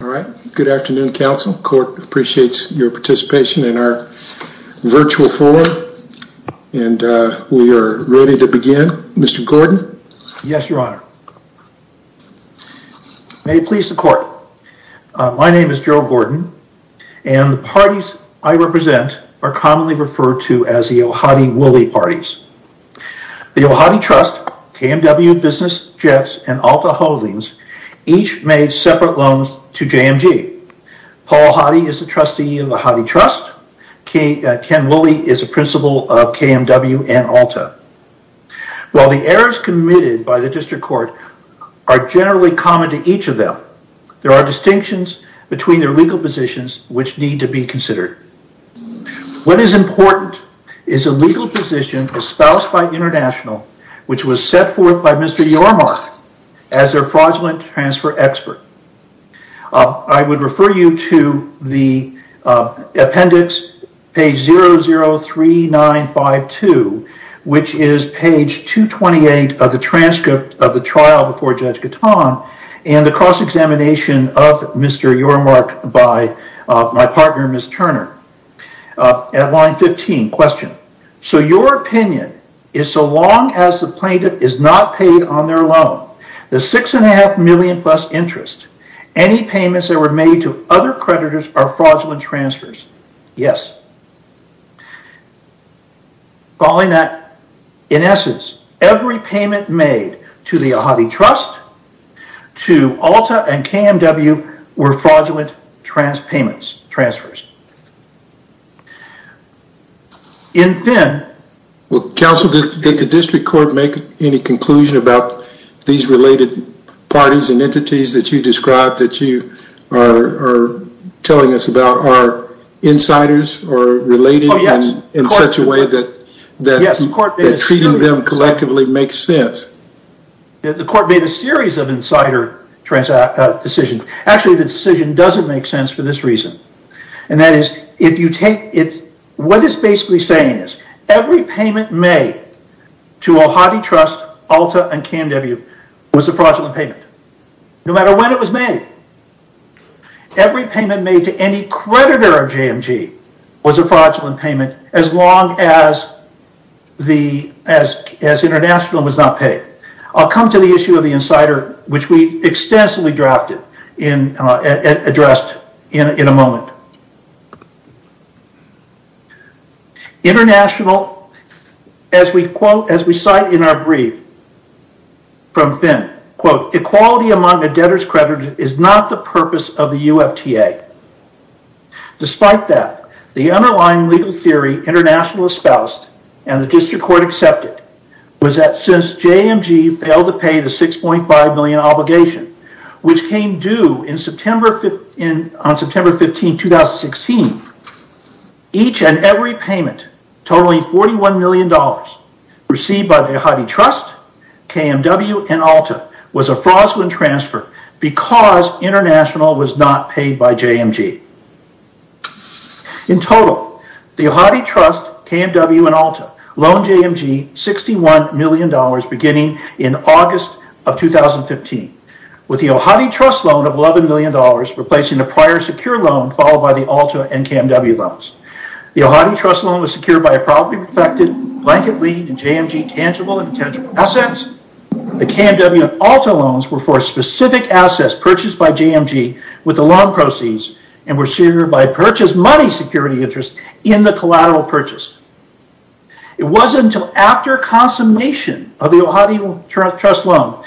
All right. Good afternoon, Council. The Court appreciates your participation in our virtual forum, and we are ready to begin. Mr. Gordon? Yes, Your Honor. May it please the Court, my name is Gerald Gordon, and the parties I represent are commonly referred to as the Ohadi-Wooley parties. The Ohadi Trust, KMW Business Jets, and Alta Holdings each made separate loans to JMG. Paul Ohadi is a trustee of the Ohadi Trust. Ken Wooley is a principal of KMW and Alta. While the errors committed by the District Court are generally common to each of them, there are distinctions between their legal positions which need to be considered. What is important is a legal position espoused by International, which was set forth by Mr. Yormark as their fraudulent transfer expert. I would refer you to the appendix, page 003952, which is page 228 of the transcript of the trial before Judge Gatton and the cross-examination of Mr. Yormark by my partner, Ms. Turner. At line 15, question. So your opinion is so long as the plaintiff is not paid on their loan, the $6.5 million plus interest, any payments that were made to other creditors are fraudulent transfers? Yes. In essence, every payment made to the Ohadi Trust, to Alta, and KMW were fraudulent transfers. Counsel, did the District Court make any conclusion about these related parties and entities that you described that you are telling us about are insiders or related in such a way that treating them collectively makes sense? The court made a series of insider decisions. Actually, the decision doesn't make sense for this reason. What it's basically saying is every payment made to Ohadi Trust, Alta, and KMW was a fraudulent payment. No matter when it was made. Every payment made to any creditor of JMG was a fraudulent payment as long as international was not paid. I'll come to the issue of the insider, which we extensively addressed in a moment. International, as we cite in our brief from Finn, quote, equality among the debtors credited is not the purpose of the UFTA. Despite that, the underlying legal theory international espoused and the District Court accepted was that since JMG failed to pay the $6.5 million obligation, which came due on September 15, 2016, each and every payment totaling $41 million received by the Ohadi Trust, KMW, and Alta was a fraudulent transfer because international was not paid by JMG. In total, the Ohadi Trust, KMW, and Alta loaned JMG $61 million beginning in August of 2015 with the Ohadi Trust loan of $11 million replacing a prior secure loan followed by the Alta and KMW loans. The Ohadi Trust loan was secured by a probably perfected blanket lead in JMG tangible and intangible assets. The KMW and Alta loans were for specific assets purchased by JMG with the loan proceeds and were secured by purchased money security interest in the collateral purchase. It wasn't until after consummation of the Ohadi Trust loan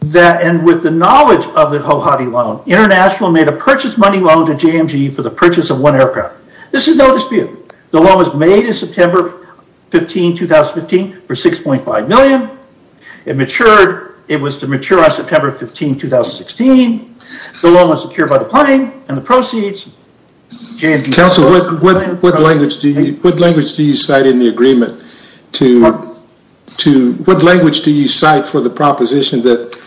that, and with the knowledge of the Ohadi loan, international made a purchase money loan to JMG for the purchase of one aircraft. This is no dispute. The loan was made in September 15, 2015 for $6.5 million. It matured. It was to mature on September 15, 2016. The loan was secured by the planning and the proceeds. What language do you cite in the agreement for the proposition that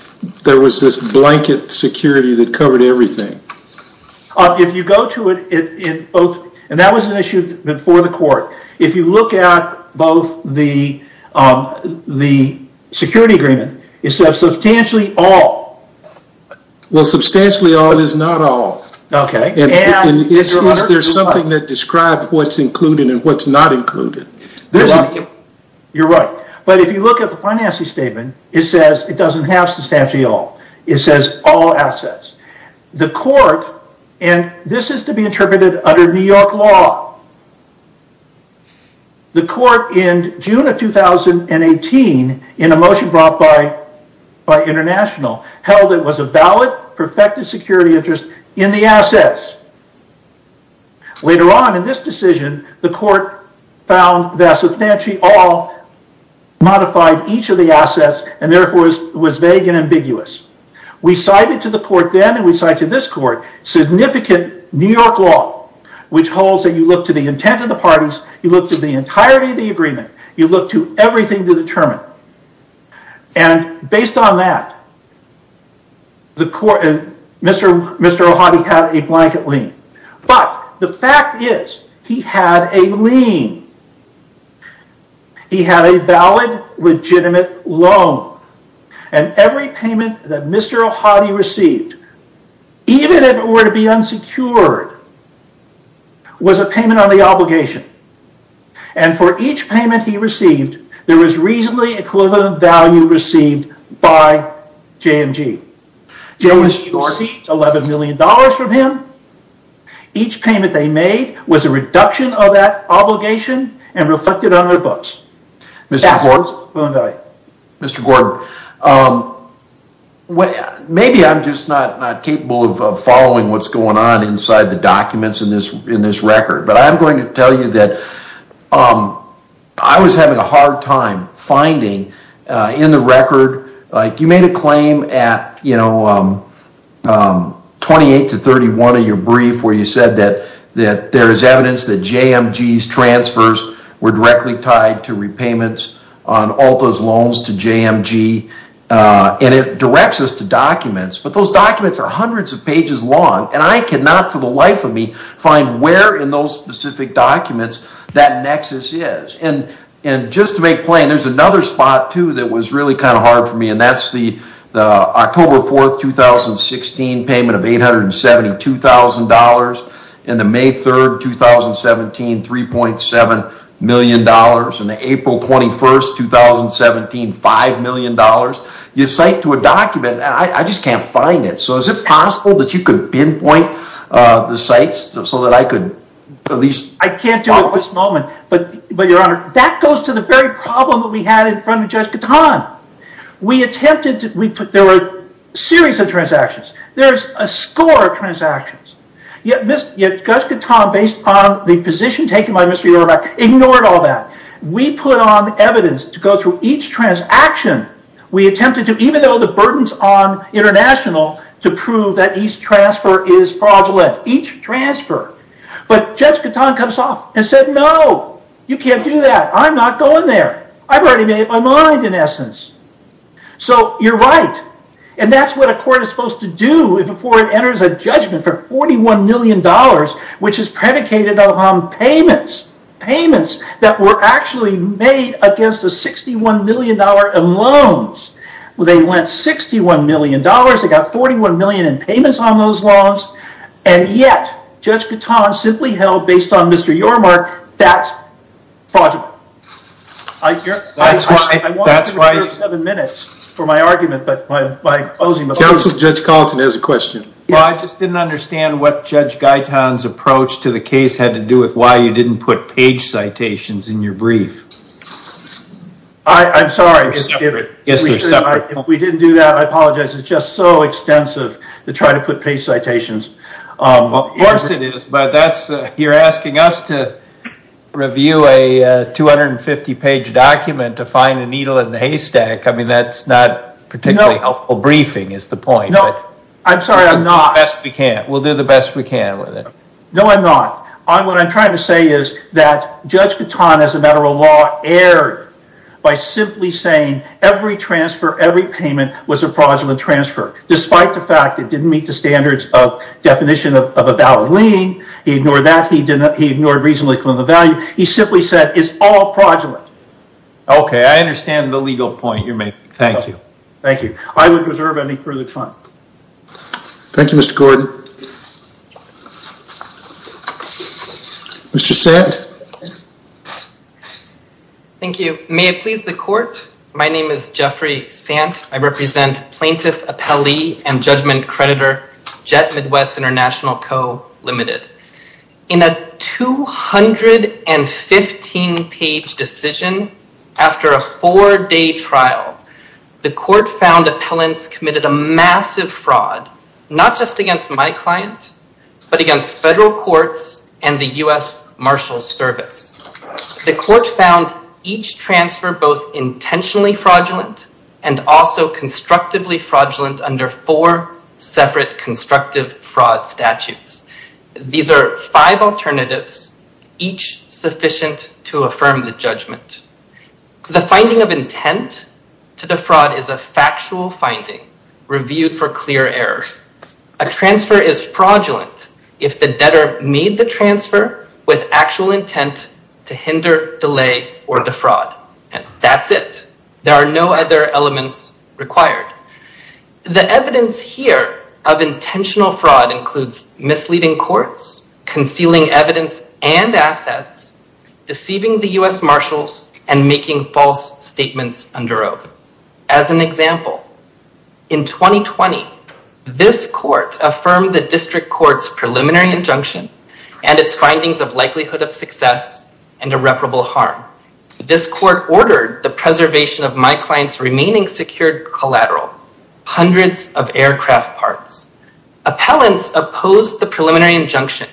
there was this blanket security that covered everything? That was an issue before the court. If you look at both the security agreement, it says substantially all. Substantially all is not all. Is there something that describes what's included and what's not included? You're right. But if you look at the financing statement, it says it doesn't have substantially all. It says all assets. This is to be interpreted under New York law. The court in June of 2018, in a motion brought by international, held it was a valid perfected security interest in the assets. Later on in this decision, the court found that substantially all modified each of the assets and therefore was vague and ambiguous. We cited to the court then, and we cite to this court, significant New York law, which holds that you look to the intent of the parties, you look to the entirety of the agreement, you look to everything to determine. Based on that, Mr. Ohadi had a blanket lien. But the fact is he had a lien. He had a valid legitimate loan. Every payment that Mr. Ohadi received, even if it were to be unsecured, was a payment on the obligation. And for each payment he received, there was reasonably equivalent value received by JMG. JMG received $11 million from him. Each payment they made was a reduction of that obligation and reflected on their books. Mr. Gordon, maybe I'm just not capable of following what's going on inside the documents in this record. But I'm going to tell you that I was having a hard time finding in the record, like you made a claim at 28 to 31 of your brief where you said that there is evidence that JMG's transfers were directly tied to repayments. All those loans to JMG. And it directs us to documents. But those documents are hundreds of pages long. And I cannot for the life of me find where in those specific documents that nexus is. And just to make plain, there's another spot too that was really kind of hard for me. And that's the October 4th, 2016 payment of $872,000. And the May 3rd, 2017 $3.7 million. And the April 21st, 2017 $5 million. You cite to a document and I just can't find it. So is it possible that you could pinpoint the sites so that I could at least... I can't do it at this moment. But Your Honor, that goes to the very problem that we had in front of Judge Katan. We attempted to... there were a series of transactions. There's a score of transactions. Yet Judge Katan, based on the position taken by Mr. Eberbach, ignored all that. We put on evidence to go through each transaction. We attempted to, even though the burden's on international, to prove that each transfer is fraudulent. Each transfer. But Judge Katan comes off and said, no, you can't do that. I'm not going there. I've already made up my mind, in essence. So you're right. And that's what a court is supposed to do before it enters a judgment for $41 million, which is predicated on payments. Payments that were actually made against a $61 million in loans. They went $61 million. They got $41 million in payments on those loans. And yet, Judge Katan simply held, based on Mr. Eberbach, that project. I want to reserve seven minutes for my argument. Counsel, Judge Kalten has a question. Well, I just didn't understand what Judge Katan's approach to the case had to do with why you didn't put page citations in your brief. I'm sorry. Yes, they're separate. If we didn't do that, I apologize. It's just so extensive to try to put page citations. Of course it is, but you're asking us to review a 250-page document to find a needle in a haystack. I mean, that's not particularly helpful. Briefing is the point. I'm sorry, I'm not. We'll do the best we can with it. No, I'm not. What I'm trying to say is that Judge Katan, as a matter of law, erred by simply saying every transfer, every payment was a fraudulent transfer. Despite the fact it didn't meet the standards of definition of a valid lien, he ignored that, he ignored reasonable equivalent value, he simply said it's all fraudulent. Okay, I understand the legal point you're making. Thank you. Thank you. I would reserve any further time. Thank you, Mr. Gordon. Mr. Sant. Thank you. May it please the court, my name is Jeffrey Sant. I represent Plaintiff Appellee and Judgment Creditor Jet Midwest International Co., Ltd. In a 215-page decision, after a four-day trial, the court found appellants committed a massive fraud, not just against my client, but against federal courts and the U.S. Marshals Service. The court found each transfer both intentionally fraudulent and also constructively fraudulent under four separate constructive fraud statutes. These are five alternatives, each sufficient to affirm the judgment. The finding of intent to defraud is a factual finding, reviewed for clear error. A transfer is fraudulent if the debtor made the transfer with actual intent to hinder, delay, or defraud, and that's it. There are no other elements required. The evidence here of intentional fraud includes misleading courts, concealing evidence and assets, deceiving the U.S. Marshals, and making false statements under oath. As an example, in 2020, this court affirmed the district court's preliminary injunction and its findings of likelihood of success and irreparable harm. This court ordered the preservation of my client's remaining secured collateral, hundreds of aircraft parts. Appellants opposed the preliminary injunction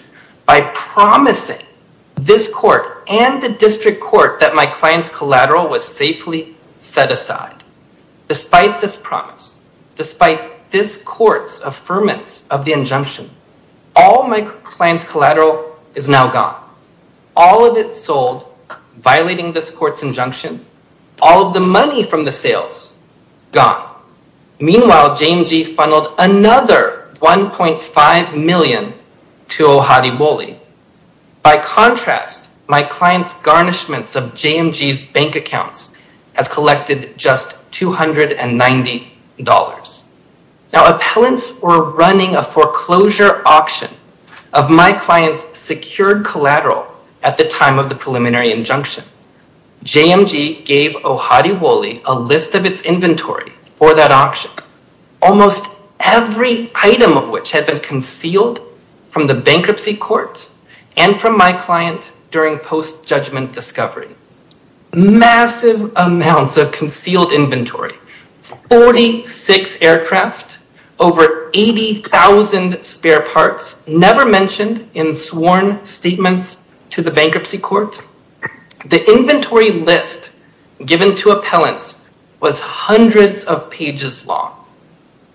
by promising this court and the district court that my client's collateral was safely set aside. Despite this promise, despite this court's affirmance of the injunction, all my client's collateral is now gone. All of it sold, violating this court's injunction, all of the money from the sales, gone. Meanwhile, JMG funneled another $1.5 million to Ojadiwoli. By contrast, my client's garnishments of JMG's bank accounts has collected just $290. Now, appellants were running a foreclosure auction of my client's secured collateral at the time of the preliminary injunction. JMG gave Ojadiwoli a list of its inventory for that auction, almost every item of which had been concealed from the bankruptcy court and from my client during post-judgment discovery. Massive amounts of concealed inventory, 46 aircraft, over 80,000 spare parts, never mentioned in sworn statements to the bankruptcy court. The inventory list given to appellants was hundreds of pages long.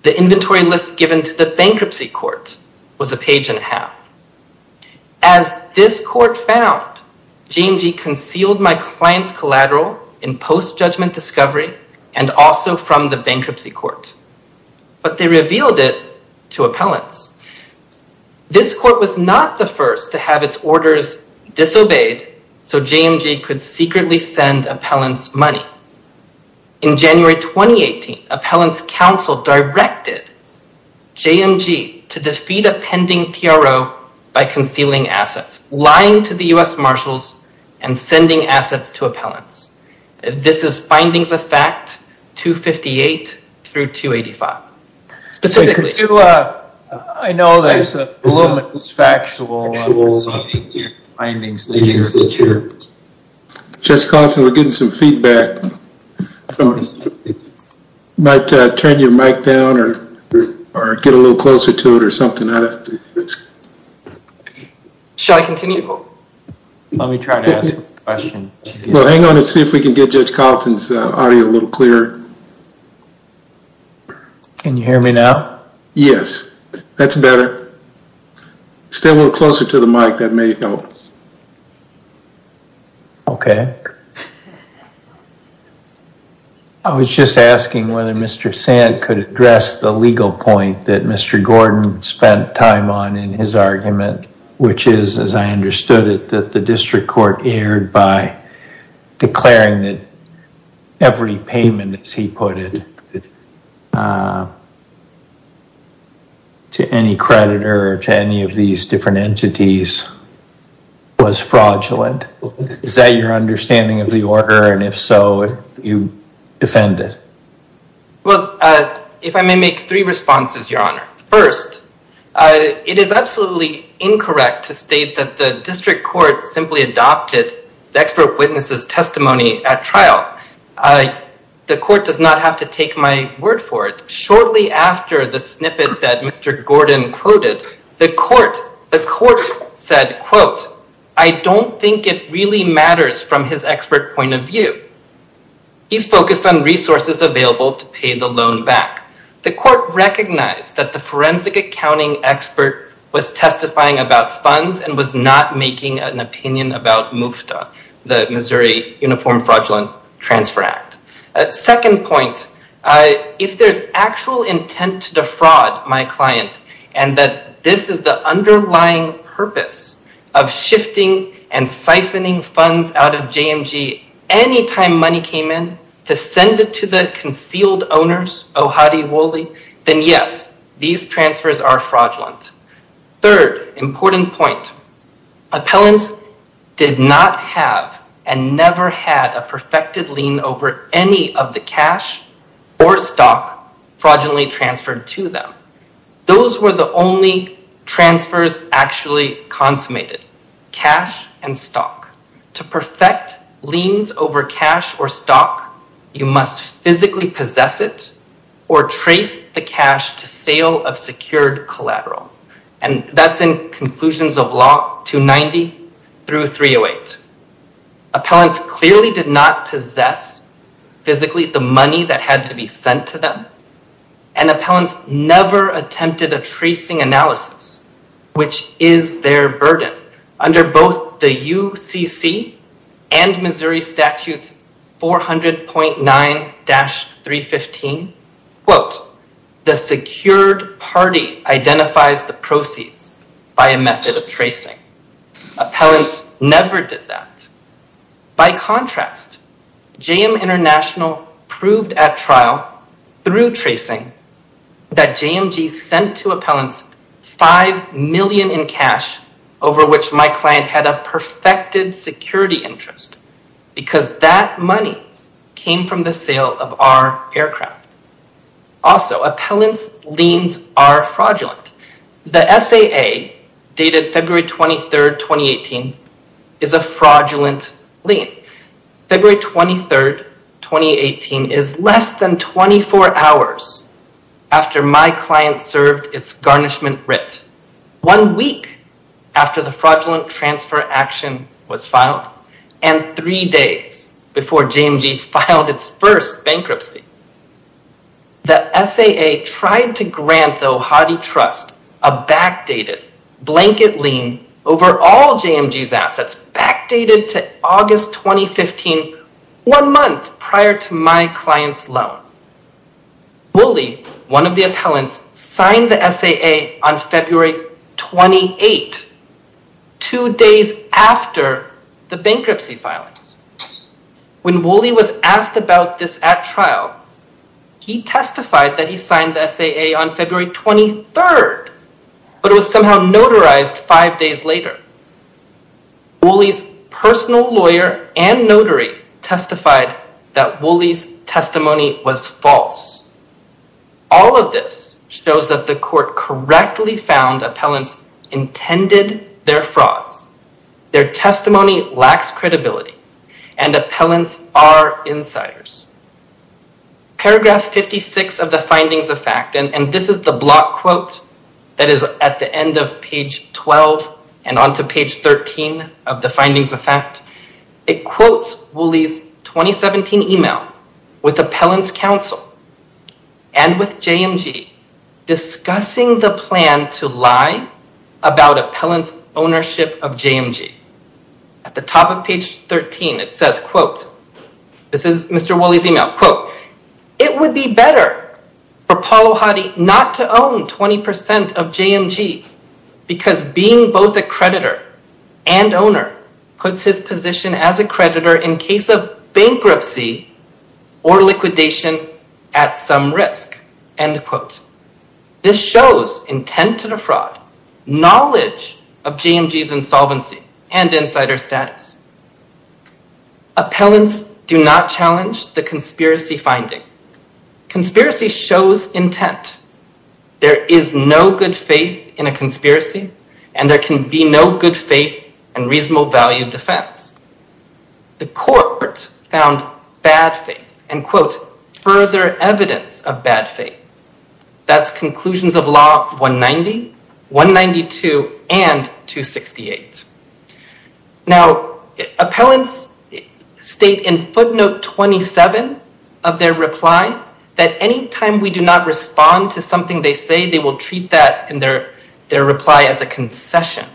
The inventory list given to the bankruptcy court was a page and a half. As this court found, JMG concealed my client's collateral in post-judgment discovery and also from the bankruptcy court. But they revealed it to appellants. This court was not the first to have its orders disobeyed so JMG could secretly send appellants money. In January 2018, appellants counsel directed JMG to defeat a pending TRO by concealing assets, lying to the U.S. Marshals and sending assets to appellants. This is findings of fact 258 through 285. Specifically. I know there's a little bit of factual findings. Judge Carlton, we're getting some feedback. Might turn your mic down or get a little closer to it or something. Shall I continue? Let me try to ask a question. Hang on and see if we can get Judge Carlton's audio a little clearer. Can you hear me now? Yes. That's better. Stay a little closer to the mic, that may help. Okay. I was just asking whether Mr. Sant could address the legal point that Mr. Gordon spent time on in his argument. Which is, as I understood it, that the district court erred by declaring that every payment, as he put it, to any creditor or to any of these different entities was fraudulent. Is that your understanding of the order? And if so, you defend it. Well, if I may make three responses, Your Honor. First, it is absolutely incorrect to state that the district court simply adopted the expert witness's testimony at trial. The court does not have to take my word for it. Shortly after the snippet that Mr. Gordon quoted, the court said, quote, I don't think it really matters from his expert point of view. He's focused on resources available to pay the loan back. The court recognized that the forensic accounting expert was testifying about funds and was not making an opinion about MUFTA, the Missouri Uniform Fraudulent Transfer Act. Second point, if there's actual intent to defraud my client and that this is the underlying purpose of shifting and siphoning funds out of JMG any time money came in to send it to the concealed owners, oh hotty woolly, then yes, these transfers are fraudulent. Third important point, appellants did not have and never had a perfected lien over any of the cash or stock fraudulently transferred to them. Those were the only transfers actually consummated, cash and stock. To perfect liens over cash or stock, you must physically possess it or trace the cash to sale of secured collateral. And that's in conclusions of law 290 through 308. Appellants clearly did not possess physically the money that had to be sent to them. And appellants never attempted a tracing analysis, which is their burden. Under both the UCC and Missouri statute 400.9-315, quote, the secured party identifies the proceeds by a method of tracing. Appellants never did that. By contrast, JM International proved at trial through tracing that JMG sent to appellants 5 million in cash over which my client had a perfected security interest because that money came from the sale of our aircraft. Also, appellants' liens are fraudulent. The SAA dated February 23, 2018 is a fraudulent lien. February 23, 2018 is less than 24 hours after my client served its garnishment writ. One week after the fraudulent transfer action was filed and three days before JMG filed its first bankruptcy. The SAA tried to grant the Ohati Trust a backdated blanket lien over all JMG's assets backdated to August 2015, one month prior to my client's loan. Wooley, one of the appellants, signed the SAA on February 28, two days after the bankruptcy filing. When Wooley was asked about this at trial, he testified that he signed the SAA on February 23, but it was somehow notarized five days later. Wooley's personal lawyer and notary testified that Wooley's testimony was false. All of this shows that the court correctly found appellants intended their frauds. Their testimony lacks credibility and appellants are insiders. Paragraph 56 of the findings of fact, and this is the block quote that is at the end of page 12 and onto page 13 of the findings of fact. It quotes Wooley's 2017 email with appellants counsel and with JMG discussing the plan to lie about appellants ownership of JMG. At the top of page 13 it says, quote, this is Mr. Wooley's email, quote, It would be better for Paul Ohati not to own 20% of JMG because being both a creditor and owner puts his position as a creditor in case of bankruptcy or liquidation at some risk, end quote. This shows intent to the fraud, knowledge of JMG's insolvency and insider status. Appellants do not challenge the conspiracy finding. Conspiracy shows intent. There is no good faith in a conspiracy and there can be no good faith and reasonable value defense. The court found bad faith, end quote, further evidence of bad faith. That's conclusions of law 190, 192 and 268. Now appellants state in footnote 27 of their reply that anytime we do not respond to something they say they will treat that in their reply as a concession.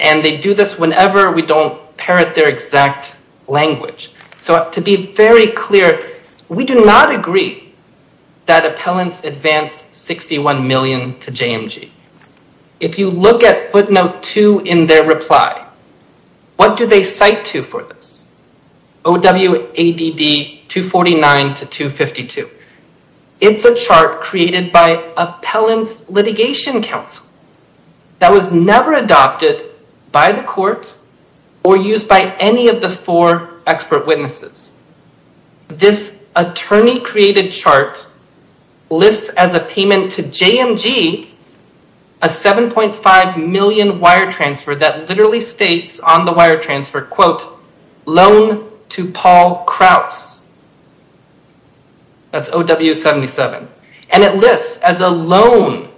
And they do this whenever we don't parrot their exact language. So to be very clear, we do not agree that appellants advanced 61 million to JMG. If you look at footnote 2 in their reply, what do they cite to for this? OWADD 249 to 252. It's a chart created by Appellants Litigation Council that was never adopted by the court or used by any of the four expert witnesses. This attorney created chart lists as a payment to JMG a 7.5 million wire transfer that literally states on the wire transfer, quote, loan to Paul Krause. That's OW77. And it lists as a loan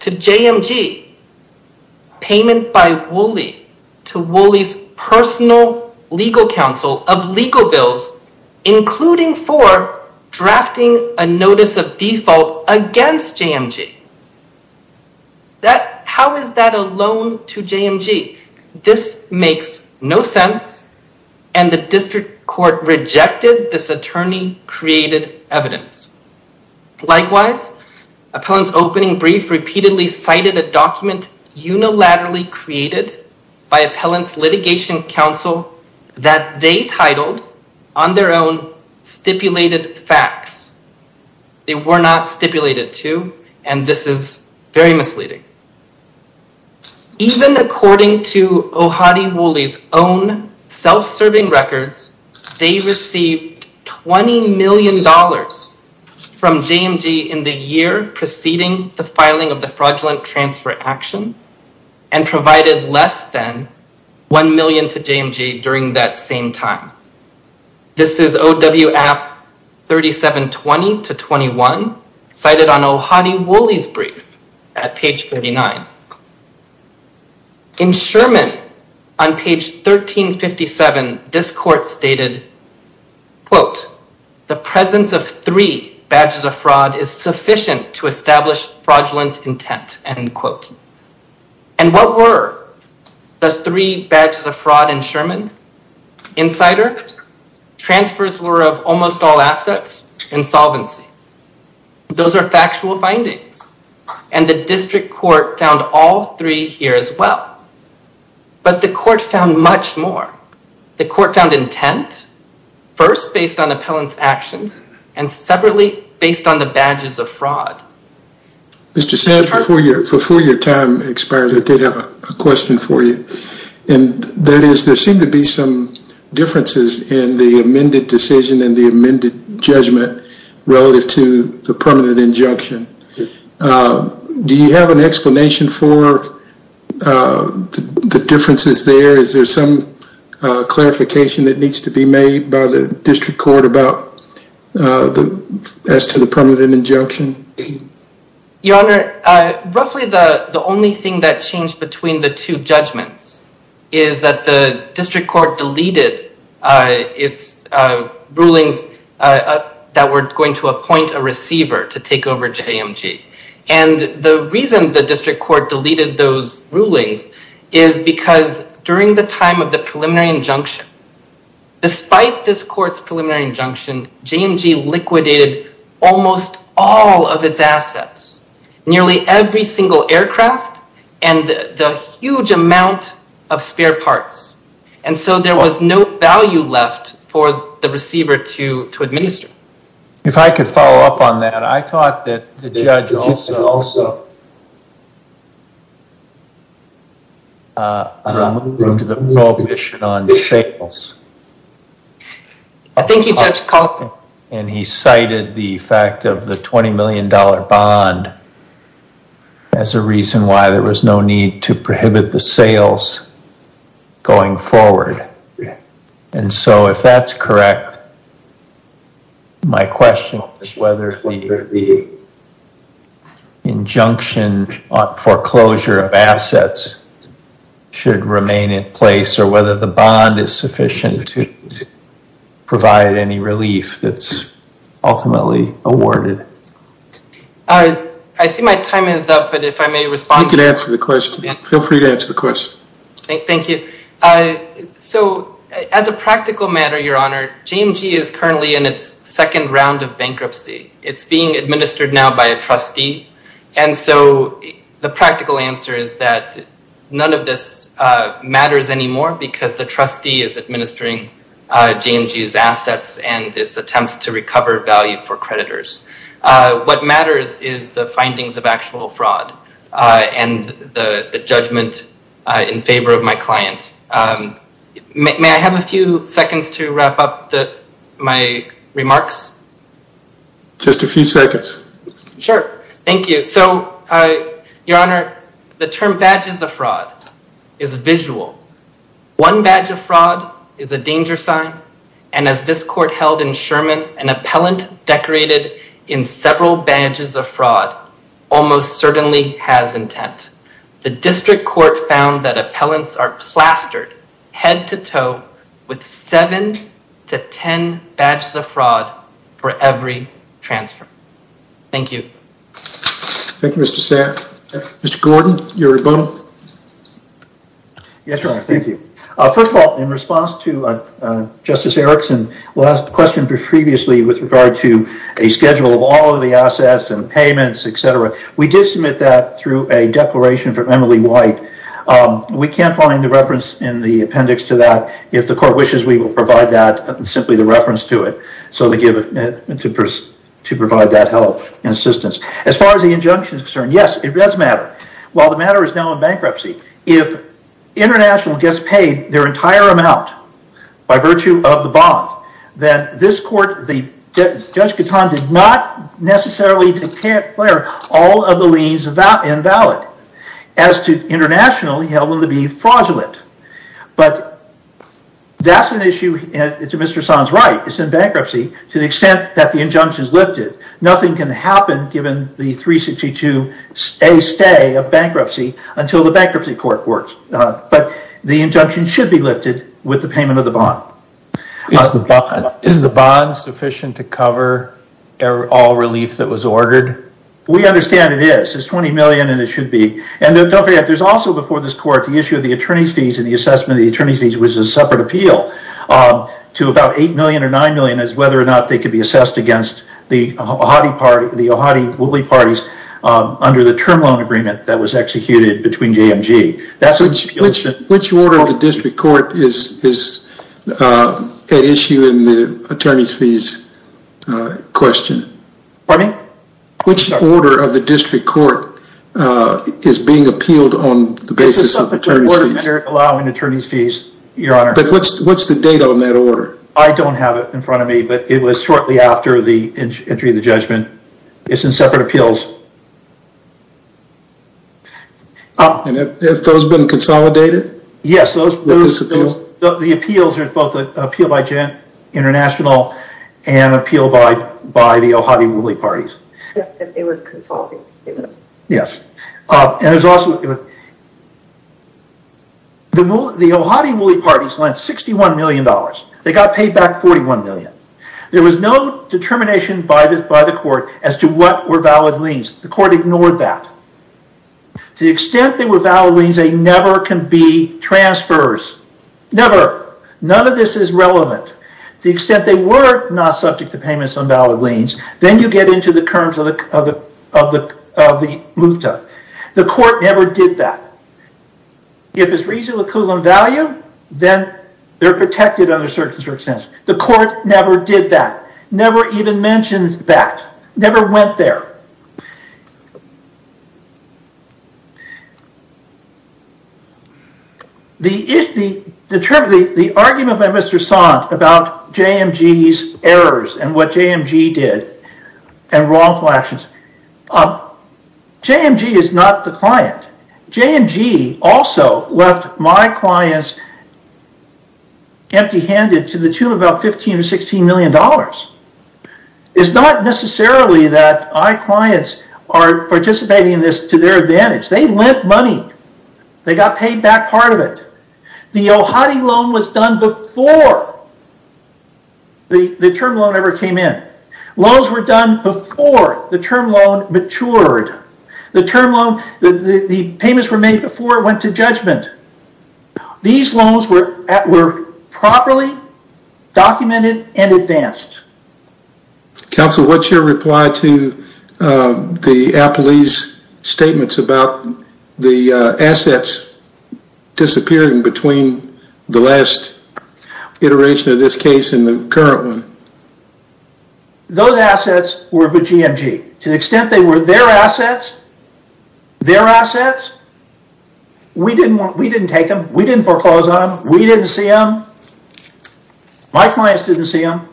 to JMG payment by Woolley to Woolley's personal legal counsel of legal bills, including for drafting a notice of default against JMG. How is that a loan to JMG? This makes no sense. And the district court rejected this attorney created evidence. Likewise, Appellants Opening Brief repeatedly cited a document unilaterally created by Appellants Litigation Council that they titled on their own stipulated facts. They were not stipulated to, and this is very misleading. Even according to Ohadi Woolley's own self-serving records, they received $20 million from JMG in the year preceding the filing of the fraudulent transfer action and provided less than $1 million to JMG during that same time. This is OW App 3720-21 cited on Ohadi Woolley's brief at page 39. In Sherman, on page 1357, this court stated, quote, the presence of three badges of fraud is sufficient to establish fraudulent intent, end quote. And what were the three badges of fraud in Sherman? Insider, transfers were of almost all assets, and solvency. Those are factual findings, and the district court found all three here as well. But the court found much more. The court found intent, first based on Appellant's actions, and separately based on the badges of fraud. Mr. Sands, before your time expires, I did have a question for you. And that is, there seem to be some differences in the amended decision and the amended judgment relative to the permanent injunction. Do you have an explanation for the differences there? Is there some clarification that needs to be made by the district court as to the permanent injunction? Your Honor, roughly the only thing that changed between the two judgments is that the district court deleted its rulings that were going to appoint a receiver to take over JMG. And the reason the district court deleted those rulings is because during the time of the preliminary injunction, despite this court's preliminary injunction, JMG liquidated almost all of its assets. Nearly every single aircraft, and a huge amount of spare parts. And so there was no value left for the receiver to administer. If I could follow up on that, I thought that the judge also removed the prohibition on sales. I think you judged Coughlin. And he cited the fact of the $20 million bond as a reason why there was no need to prohibit the sales going forward. And so if that's correct, my question is whether the injunction on foreclosure of assets should remain in place or whether the bond is sufficient to provide any relief that's ultimately awarded. I see my time is up, but if I may respond. You can answer the question. Feel free to answer the question. Thank you. So as a practical matter, your honor, JMG is currently in its second round of bankruptcy. It's being administered now by a trustee. And so the practical answer is that none of this matters anymore because the trustee is administering JMG's assets and its attempts to recover value for creditors. What matters is the findings of actual fraud and the judgment in favor of my client. May I have a few seconds to wrap up my remarks? Just a few seconds. Sure. Thank you. So your honor, the term badges of fraud is visual. One badge of fraud is a danger sign. And as this court held in Sherman, an appellant decorated in several badges of fraud almost certainly has intent. The district court found that appellants are plastered head to toe with seven to ten badges of fraud for every transfer. Thank you. Thank you, Mr. Sack. Mr. Gordon, your rebuttal. Yes, your honor. Thank you. First of all, in response to Justice Erickson's last question previously with regard to a schedule of all of the assets and payments, etc. We did submit that through a declaration from Emily White. We can't find the reference in the appendix to that. If the court wishes, we will provide that, simply the reference to it, to provide that help and assistance. As far as the injunction is concerned, yes, it does matter. While the matter is now in bankruptcy, if international gets paid their entire amount by virtue of the bond, then this court, Judge Katan, did not necessarily declare all of the liens invalid. As to international, he held them to be fraudulent. But that's an issue to Mr. Sands' right. It's in bankruptcy to the extent that the injunction is lifted. Nothing can happen given the 362A stay of bankruptcy until the bankruptcy court works. But the injunction should be lifted with the payment of the bond. Is the bond sufficient to cover all relief that was ordered? We understand it is. It's $20 million and it should be. And don't forget, there's also before this court the issue of the attorney's fees and the assessment of the attorney's fees, which is a separate appeal, to about $8 million or $9 million as to whether or not they can be assessed against the Ohati Wuli parties under the term loan agreement that was executed between JMG. Which order of the district court is at issue in the attorney's fees question? Pardon me? Which order of the district court is being appealed on the basis of attorney's fees? It's a separate order allowing attorney's fees, Your Honor. But what's the date on that order? I don't have it in front of me, but it was shortly after the entry of the judgment. It's in separate appeals. And have those been consolidated? Yes, the appeals are both appealed by JMG International and appealed by the Ohati Wuli parties. They were consolidated. Yes. The Ohati Wuli parties lent $61 million. They got paid back $41 million. There was no determination by the court as to what were valid liens. The court ignored that. To the extent they were valid liens, they never can be transfers. Never. None of this is relevant. To the extent they were not subject to payments on valid liens, then you get into the curms of the MUFTA. The court never did that. If it's reasonable equivalent value, then they're protected under certain circumstances. The court never did that. Never even mentioned that. Never went there. The argument by Mr. Sant about JMG's errors and what JMG did and wrongful actions. JMG is not the client. JMG also left my clients empty handed to the tune of about $15 or $16 million. It's not necessarily that my clients are participating in this to their advantage. They lent money. They got paid back part of it. The Ohati loan was done before the term loan ever came in. Loans were done before the term loan matured. The payments were made before it went to judgment. These loans were properly documented and advanced. Counsel, what's your reply to the Appleese statements about the assets disappearing between the last iteration of this case and the current one? Those assets were with JMG. To the extent they were their assets, their assets, we didn't take them. We didn't foreclose on them. We didn't see them. My clients didn't see them.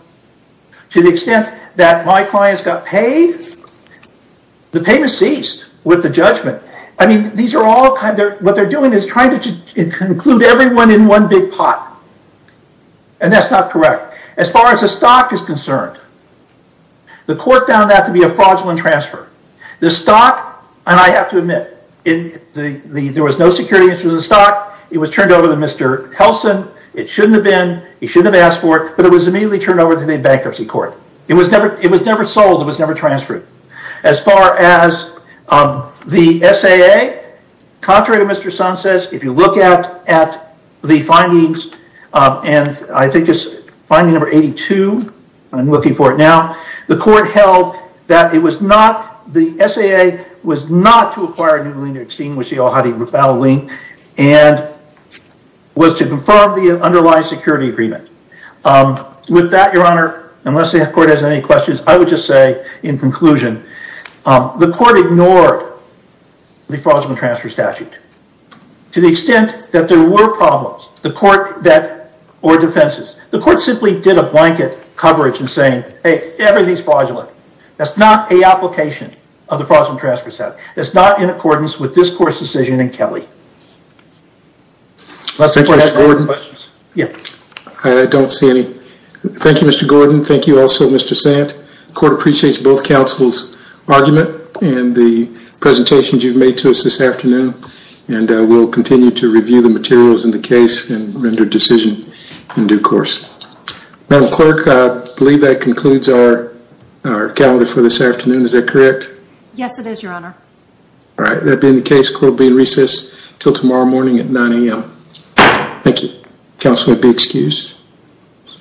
To the extent that my clients got paid, the payment ceased with the judgment. What they're doing is trying to include everyone in one big pot. And that's not correct. As far as the stock is concerned, the court found that to be a fraudulent transfer. The stock, and I have to admit, there was no security issue with the stock. It was turned over to Mr. Helsen. It shouldn't have been. He shouldn't have asked for it, but it was immediately turned over to the bankruptcy court. It was never sold. It was never transferred. As far as the SAA, contrary to Mr. Sun says, if you look at the findings, and I think it's finding number 82, I'm looking for it now, the court held that it was not, the SAA was not to acquire a new lien to extinguish the al-Hadi libel lien and was to confirm the underlying security agreement. With that, your honor, unless the court has any questions, I would just say in conclusion, the court ignored the fraudulent transfer statute. To the extent that there were problems, the court that, or defenses, the court simply did a blanket coverage in saying, hey, everything's fraudulent. That's not a application of the fraudulent transfer statute. That's not in accordance with this court's decision in Kelly. Unless the court has any questions. Thank you, Mr. Gordon. I don't see any. Thank you, Mr. Gordon. Thank you also, Mr. Sant. The court appreciates both counsel's argument and the presentations you've made to us this afternoon and we'll continue to review the materials in the case and render decision in due course. Madam Clerk, I believe that concludes our calendar for this afternoon. Is that correct? Yes, it is, your honor. All right. That being the case, court will be in recess until tomorrow morning at 9 a.m. Thank you. Counsel would be excused.